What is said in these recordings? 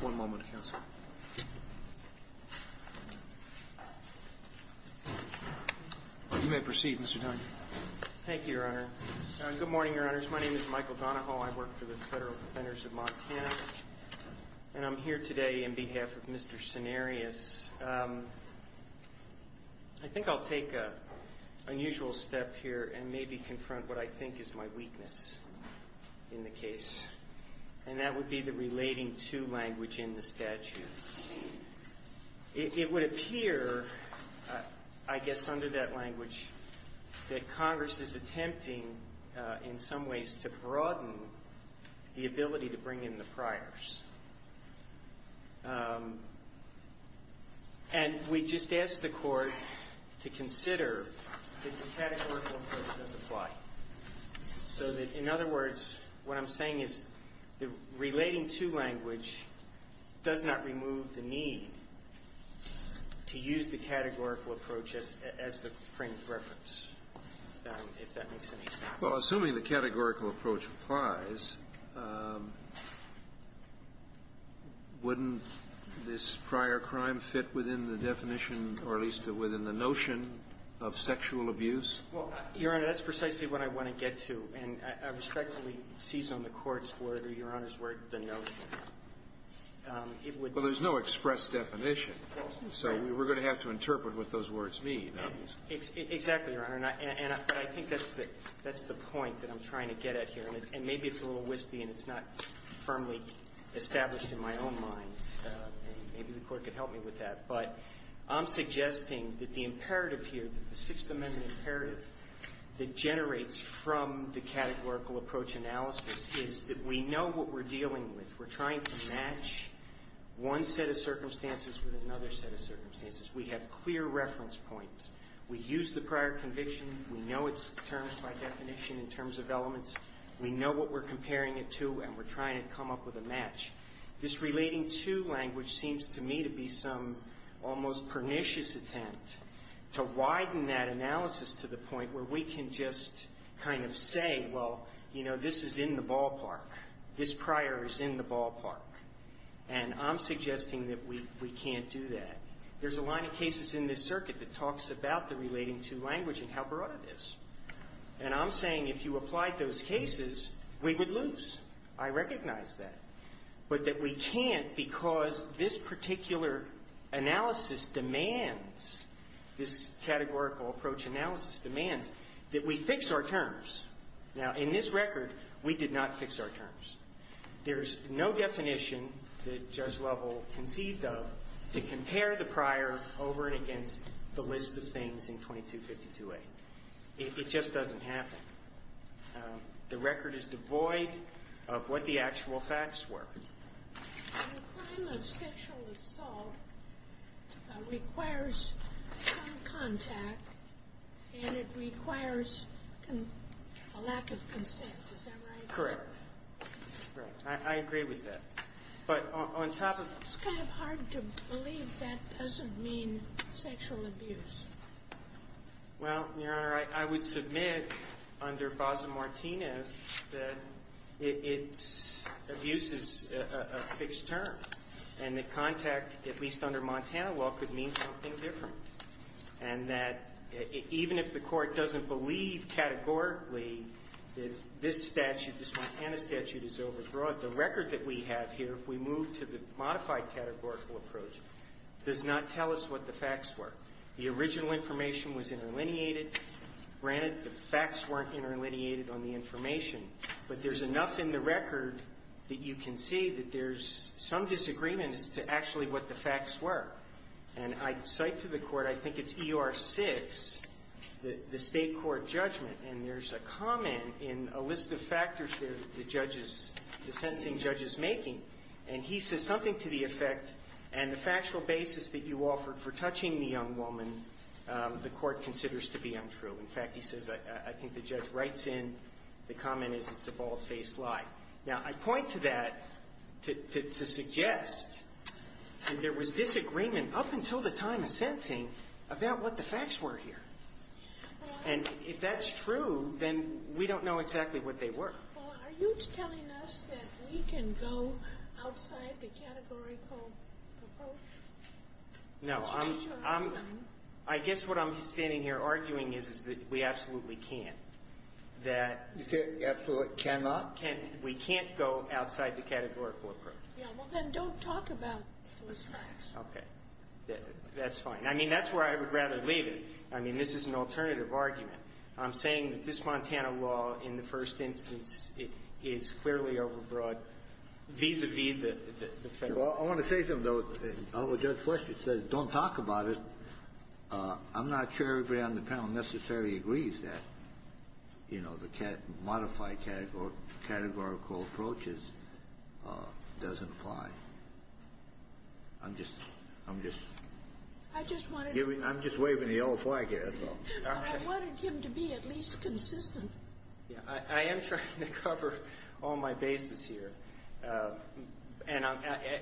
One moment, Counselor. You may proceed, Mr. Dunn. Thank you, Your Honor. Good morning, Your Honors. My name is Michael Donahoe. I work for the Federal Defenders of Montana, and I'm here today on behalf of Mr. Sinerius. I think I'll take an unusual step here and maybe confront what I think is my weakness in the case, and that would be the relating to language in the statute. It would appear, I guess under that language, that Congress is attempting in some ways to broaden the ability to bring in the priors. And we just ask the Court to consider that the categorical approach does apply, so that, in other words, what I'm saying is the relating to language does not remove the need to use the categorical approach as the frame of reference, if that makes any sense. Well, assuming the categorical approach applies, wouldn't this prior crime fit within the definition, or at least within the notion of sexual abuse? Well, Your Honor, that's precisely what I want to get to. And I would strike what we seized on the Court's word, or Your Honor's word, the notion. It would be the same So we're going to have to interpret what those words mean. Exactly, Your Honor. And I think that's the point that I'm trying to get at here. And maybe it's a little wispy and it's not firmly established in my own mind. Maybe the Court could help me with that. But I'm suggesting that the imperative here, the Sixth Amendment imperative that generates from the categorical approach analysis is that we know what we're comparing it to, and we're trying to come up with a match. This relating to language seems to me to be some almost pernicious attempt to widen that analysis to the point where we can just kind of say, well, you know, this is in the ballpark. This prior is in the ballpark. And I'm suggesting that we can't do that. There's a line of cases in this circuit that talks about the relating to language and how broad it is. And I'm saying if you applied those cases, we would lose. I recognize that. But that we can't because this particular analysis demands, this categorical approach analysis demands, that we fix our terms. Now, in this record, we did not fix our terms. There's no definition that Judge Lovell conceived of to compare the prior over and against the list of things in 2252A. It just doesn't happen. The record is devoid of what the actual facts were. The crime of sexual assault requires some contact, and it requires a lack of consent. Is that right? Correct. Right. I agree with that. But on top of the... It's kind of hard to believe that doesn't mean sexual abuse. Well, Your Honor, I would submit under Faza-Martinez that it's abuse is a fixed term. And the contact, at least under Montana, well, could mean something different. And that even if the Court doesn't believe categorically that this statute, this Montana statute, is overbroad, the record that we have here, if we move to the modified categorical approach, does not tell us what the facts were. The original information was interlineated. Granted, the facts weren't interlineated on the information, but there's enough in the record that you can see that there's some disagreement as to actually what the facts were. And I cite to the Court, I think it's E.R. 6, the State Court judgment, and there's a comment in a list of factors that the judge is, the sentencing judge is making. And he says something to the effect, and the factual basis that you offered for touching the young woman, the Court considers to be untrue. In fact, he says, I think the judge writes in, the comment is it's a bald-faced lie. Now, I point to that to suggest that there was disagreement up until the time of sentencing about what the facts were here. And if that's true, then we don't know exactly what they were. Sotomayor, are you telling us that we can go outside the categorical approach? No. I guess what I'm standing here arguing is, is that we absolutely can't. That we can't. We can't go outside the categorical approach. Yeah, well, then don't talk about false facts. Okay. That's fine. I mean, that's where I would rather leave it. I mean, this is an alternative argument. I'm saying that this Montana law, in the first instance, is clearly over-broad vis-a-vis the federal law. I want to say something, though. I'll let Judge Fletcher say it. Don't talk about it. I'm not sure everybody on the panel necessarily agrees that, you know, the modified categorical approaches doesn't apply. I'm just, I'm just, I'm just waving the yellow flag here, as well. I wanted him to be at least consistent. Yeah, I am trying to cover all my bases here. And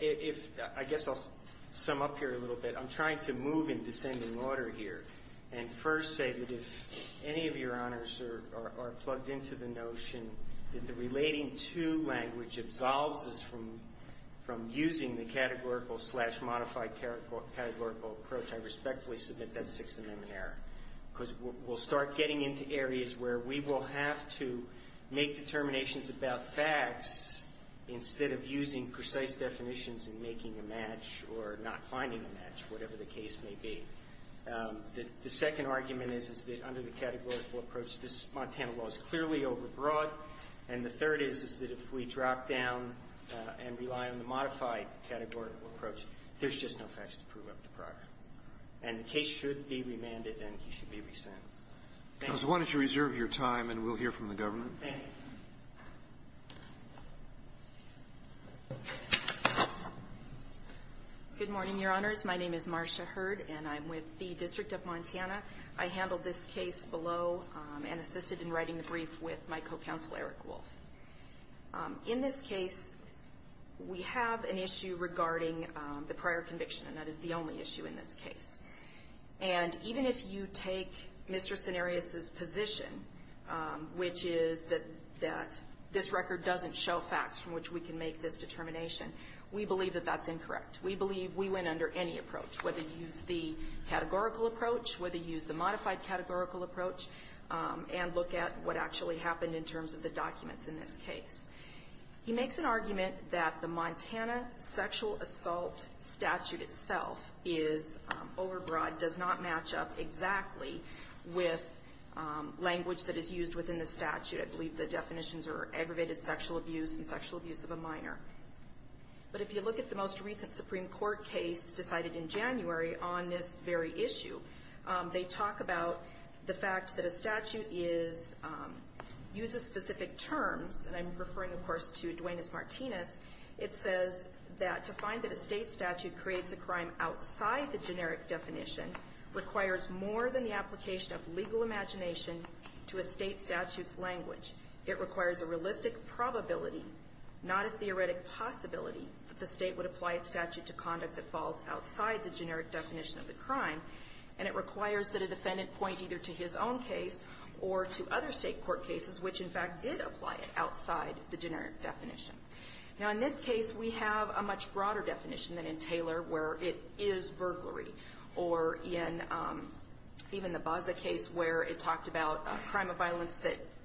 if, I guess I'll sum up here a little bit. I'm trying to move in descending order here and first say that if any of your arguments are plugged into the notion that the relating to language absolves us from using the categorical slash modified categorical approach, I respectfully submit that's Sixth Amendment error. Because we'll start getting into areas where we will have to make determinations about facts instead of using precise definitions and making a match or not finding a match, whatever the case may be. The second argument is, is that under the categorical approach, this Montana law is clearly overbroad. And the third is, is that if we drop down and rely on the modified categorical approach, there's just no facts to prove up to progress. And the case should be remanded and he should be re-sentenced. Thank you. Roberts, I wanted to reserve your time, and we'll hear from the government. Thank you. Good morning, Your Honors. My name is Marsha Hurd, and I'm with the District of Montana. I handled this case below and assisted in writing the brief with my co-counsel, Eric Wolf. In this case, we have an issue regarding the prior conviction, and that is the only issue in this case. And even if you take Mr. Cenarius's position, which is that this record doesn't show facts from which we can make this determination, we believe that that's incorrect. We believe we went under any approach, whether you use the categorical approach, whether you use the modified categorical approach, and look at what actually happened in terms of the documents in this case. He makes an argument that the Montana sexual assault statute itself is overbroad, does not match up exactly with language that is used within the statute. I believe the definitions are aggravated sexual abuse and sexual abuse of a minor. But if you look at the most recent Supreme Court case decided in January on this very issue, they talk about the fact that a statute uses specific terms. And I'm referring, of course, to Duenas-Martinez. It says that to find that a state statute creates a crime outside the generic definition requires more than the application of legal imagination to a state statute's language. It requires a realistic probability, not a theoretic possibility, that the state would apply its statute to conduct that falls outside the generic definition of the crime. And it requires that a defendant point either to his own case or to other state court cases which, in fact, did apply it outside the generic definition. Now in this case, we have a much broader definition than in Taylor where it is burglary, or in even the Baza case where it talked about a crime of violence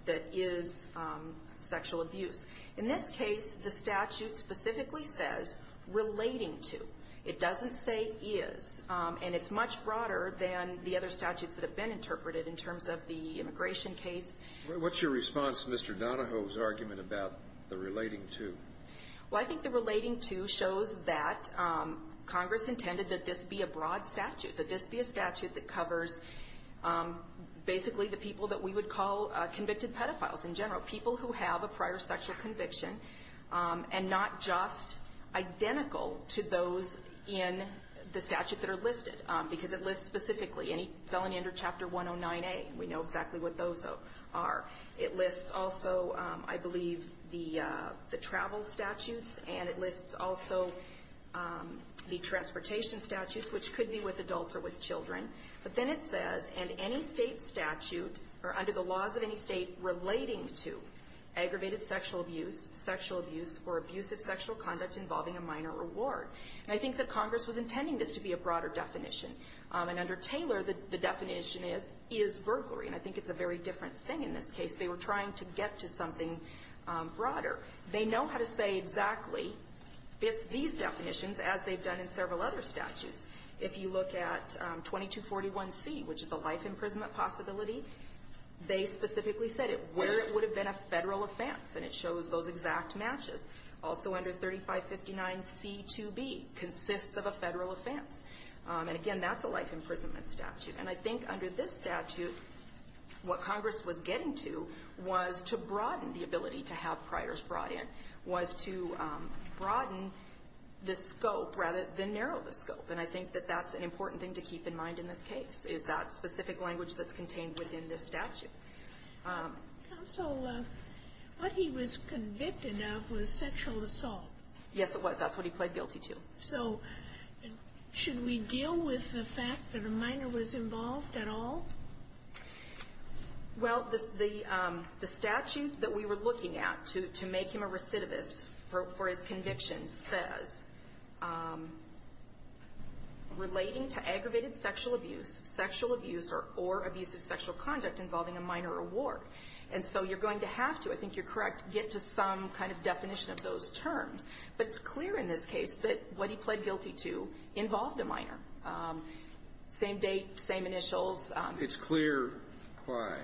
that is sexual abuse. In this case, the statute specifically says relating to. It doesn't say is. And it's much broader than the other statutes that have been interpreted in terms of the immigration case. What's your response to Mr. Donahoe's argument about the relating to? Well, I think the relating to shows that Congress intended that this be a broad statute, that this be a statute that covers basically the people that we would call convicted pedophiles in general, people who have a prior sexual conviction and not just identical to those in the statute that are listed. Because it lists specifically any felony under Chapter 109A. We know exactly what those are. It lists also, I believe, the travel statutes. And it lists also the transportation statutes, which could be with adults or with children. But then it says, and any State statute or under the laws of any State relating to aggravated sexual abuse, sexual abuse, or abusive sexual conduct involving a minor reward. And I think that Congress was intending this to be a broader definition. And under Taylor, the definition is, is burglary. And I think it's a very different thing in this case. They were trying to get to something broader. They know how to say exactly, it's these definitions, as they've done in several other statutes. If you look at 2241C, which is a life imprisonment possibility, they specifically said it, where it would have been a Federal offense. And it shows those exact matches. Also under 3559C2B, consists of a Federal offense. And again, that's a life imprisonment statute. And I think under this statute, what Congress was getting to was to broaden the ability to have priors brought in, was to broaden the scope, rather than narrow the scope. And I think that that's an important thing to keep in mind in this case, is that specific language that's contained within this statute. Sotomayor, what he was convicted of was sexual assault. Yes, it was. That's what he pled guilty to. So should we deal with the fact that a minor was involved at all? Well, the statute that we were looking at to make him a recidivist for his conviction says, relating to aggravated sexual abuse, sexual abuse or abuse of sexual conduct involving a minor or ward. And so you're going to have to, I think you're correct, get to some kind of definition of those terms. But it's clear in this case that what he pled guilty to involved a minor. Same date, same initials. It's clear why.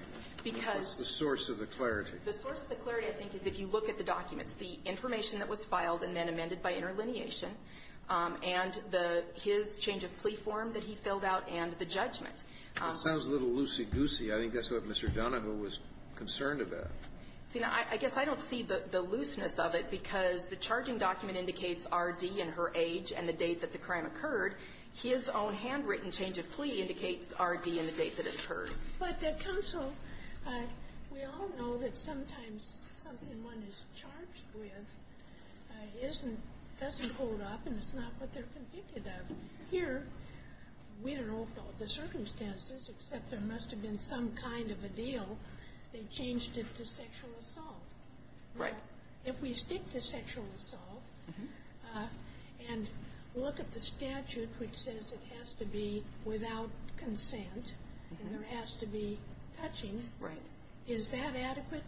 Because the source of the clarity. The source of the clarity, I think, is if you look at the documents. The information that was filed and then amended by interlineation, and the his change of plea form that he filled out, and the judgment. It sounds a little loosey-goosey. I think that's what Mr. Donahue was concerned about. See, now, I guess I don't see the looseness of it, because the charging document indicates R.D. and her age and the date that the crime occurred. His own handwritten change of plea indicates R.D. and the date that it occurred. But, counsel, we all know that sometimes something one is charged with isn't doesn't hold up and it's not what they're convicted of. Here, we don't know the circumstances, except there must have been some kind of a deal. They changed it to sexual assault. Right. But if we stick to sexual assault and look at the statute, which says it has to be without consent, and there has to be touching, is that adequate?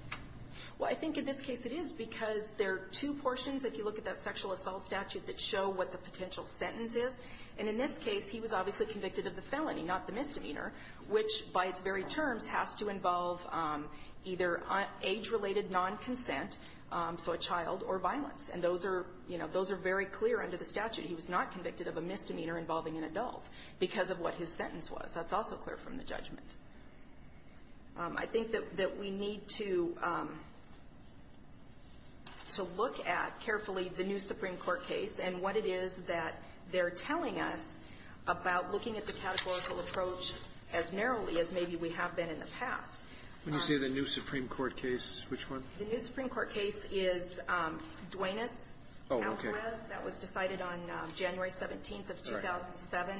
Well, I think in this case it is, because there are two portions, if you look at that sexual assault statute, that show what the potential sentence is. And in this case, he was obviously convicted of the felony, not the misdemeanor, which, by its very terms, has to involve either age-related nonconsent, so a child, or violence. And those are, you know, those are very clear under the statute. He was not convicted of a misdemeanor involving an adult because of what his sentence was. That's also clear from the judgment. I think that we need to look at carefully the new Supreme Court case and what it is that they're telling us about looking at the categorical approach as narrowly as maybe we have been in the past. When you say the new Supreme Court case, which one? The new Supreme Court case is Duenas-Alvarez. Oh, okay. That was decided on January 17th of 2007.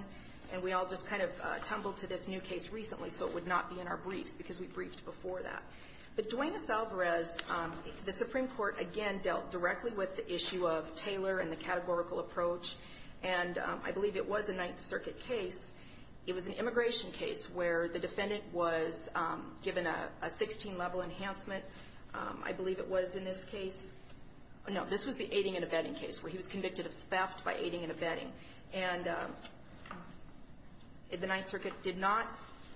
And we all just kind of tumbled to this new case recently, so it would not be in our briefs, because we briefed before that. But Duenas-Alvarez, the Supreme Court, again, dealt directly with the issue of Taylor and the categorical approach. And I believe it was a Ninth Circuit case. It was an immigration case where the defendant was given a 16-level enhancement. I believe it was in this case. No, this was the aiding and abetting case, where he was convicted of theft by aiding and abetting. And the Ninth Circuit did not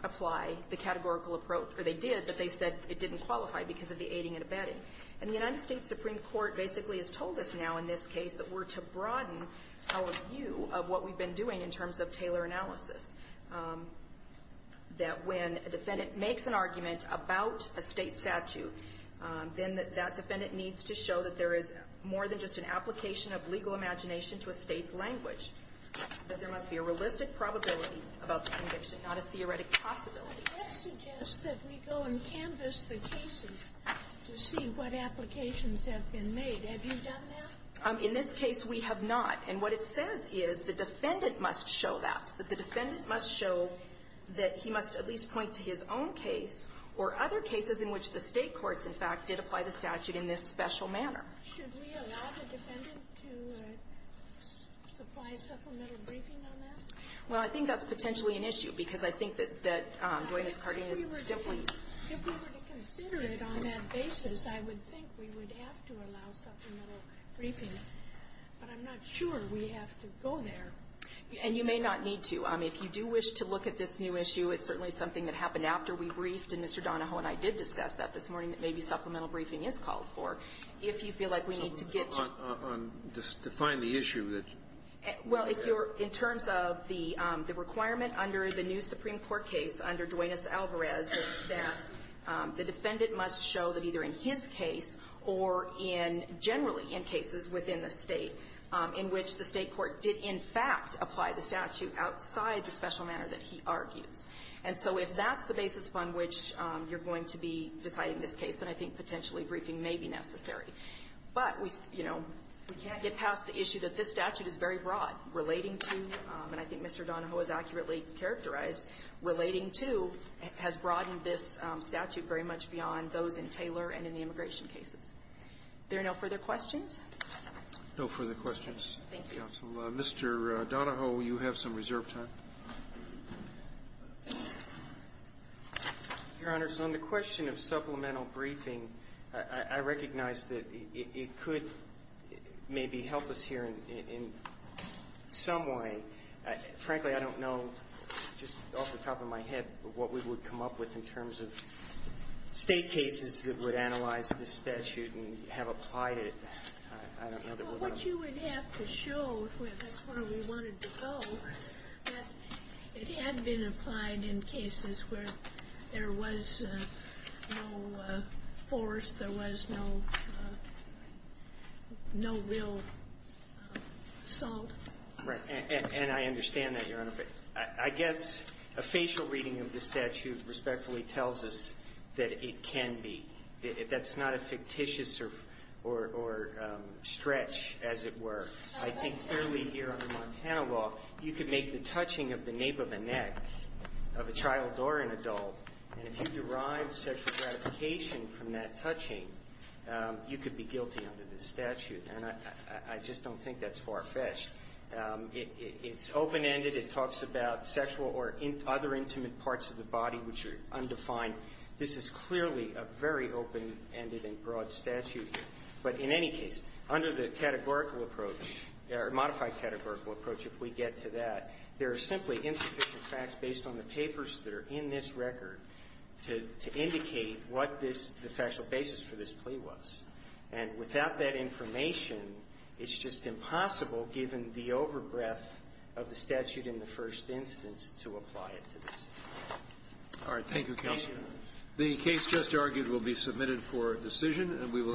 apply the categorical approach, or they did, but they said it didn't qualify because of the aiding and abetting. And the United States Supreme Court basically has told us now in this case that we're to broaden our view of what we've been doing in terms of Taylor analysis, that when a defendant makes an argument about a State statute, then that that defendant needs to show that there is more than just an application of legal imagination to a State's language, that there must be a realistic probability about the conviction, not a theoretic possibility. Sotomayor, I suggest that we go and canvass the cases to see what applications have been made. Have you done that? In this case, we have not. And what it says is the defendant must show that, that the defendant must show that he must at least point to his own case or other cases in which the State courts, in fact, did apply the statute in this special manner. Should we allow the defendant to supply a supplemental briefing on that? Well, I think that's potentially an issue, because I think that Dwayne's carding is simply the case. If we were to consider it on that basis, I would think we would have to allow supplemental briefing. But I'm not sure we have to go there. And you may not need to. If you do wish to look at this new issue, it's certainly something that happened after we briefed, and Mr. Donahoe and I did discuss that this morning, that maybe supplemental briefing is called for. If you feel like we need to get to the point on this, define the issue that you're in terms of the requirement under the new Supreme Court case under Duanez-Alvarez that the defendant must show that either in his case or in generally in cases within the State in which the State court did, in fact, apply the statute outside the special manner that he argues. And so if that's the basis from which you're going to be deciding this case, then I think potentially briefing may be necessary. But we, you know, we can't get past the issue that this statute is very broad, relating to, and I think Mr. Donahoe has accurately characterized, relating to, has broadened this statute very much beyond those in Taylor and in the immigration cases. Are there no further questions? No further questions, counsel. Mr. Donahoe, you have some reserve time. Your Honor, on the question of supplemental briefing, I recognize that it could maybe help us here in some way. Frankly, I don't know just off the top of my head what we would come up with in terms of State cases that would analyze this statute and have applied it. I don't know that we're going to be able to do that. I don't know if that's where we wanted to go, but it had been applied in cases where there was no force, there was no real assault. Right. And I understand that, Your Honor. But I guess a facial reading of the statute respectfully tells us that it can be. That's not a fictitious or stretch, as it were. I think clearly here under Montana law, you can make the touching of the nape of a neck of a child or an adult, and if you derive sexual gratification from that touching, you could be guilty under this statute. And I just don't think that's far-fetched. It's open-ended. It talks about sexual or other intimate parts of the body which are undefined. This is clearly a very open-ended and broad statute. But in any case, under the categorical approach, or modified categorical approach, if we get to that, there are simply insufficient facts based on the papers that are in this record to indicate what this the factual basis for this plea was. And without that information, it's just impossible, given the over-breath of the statute in the first instance, to apply it to this. All right. Thank you, counsel. The case just argued will be submitted for decision. We will.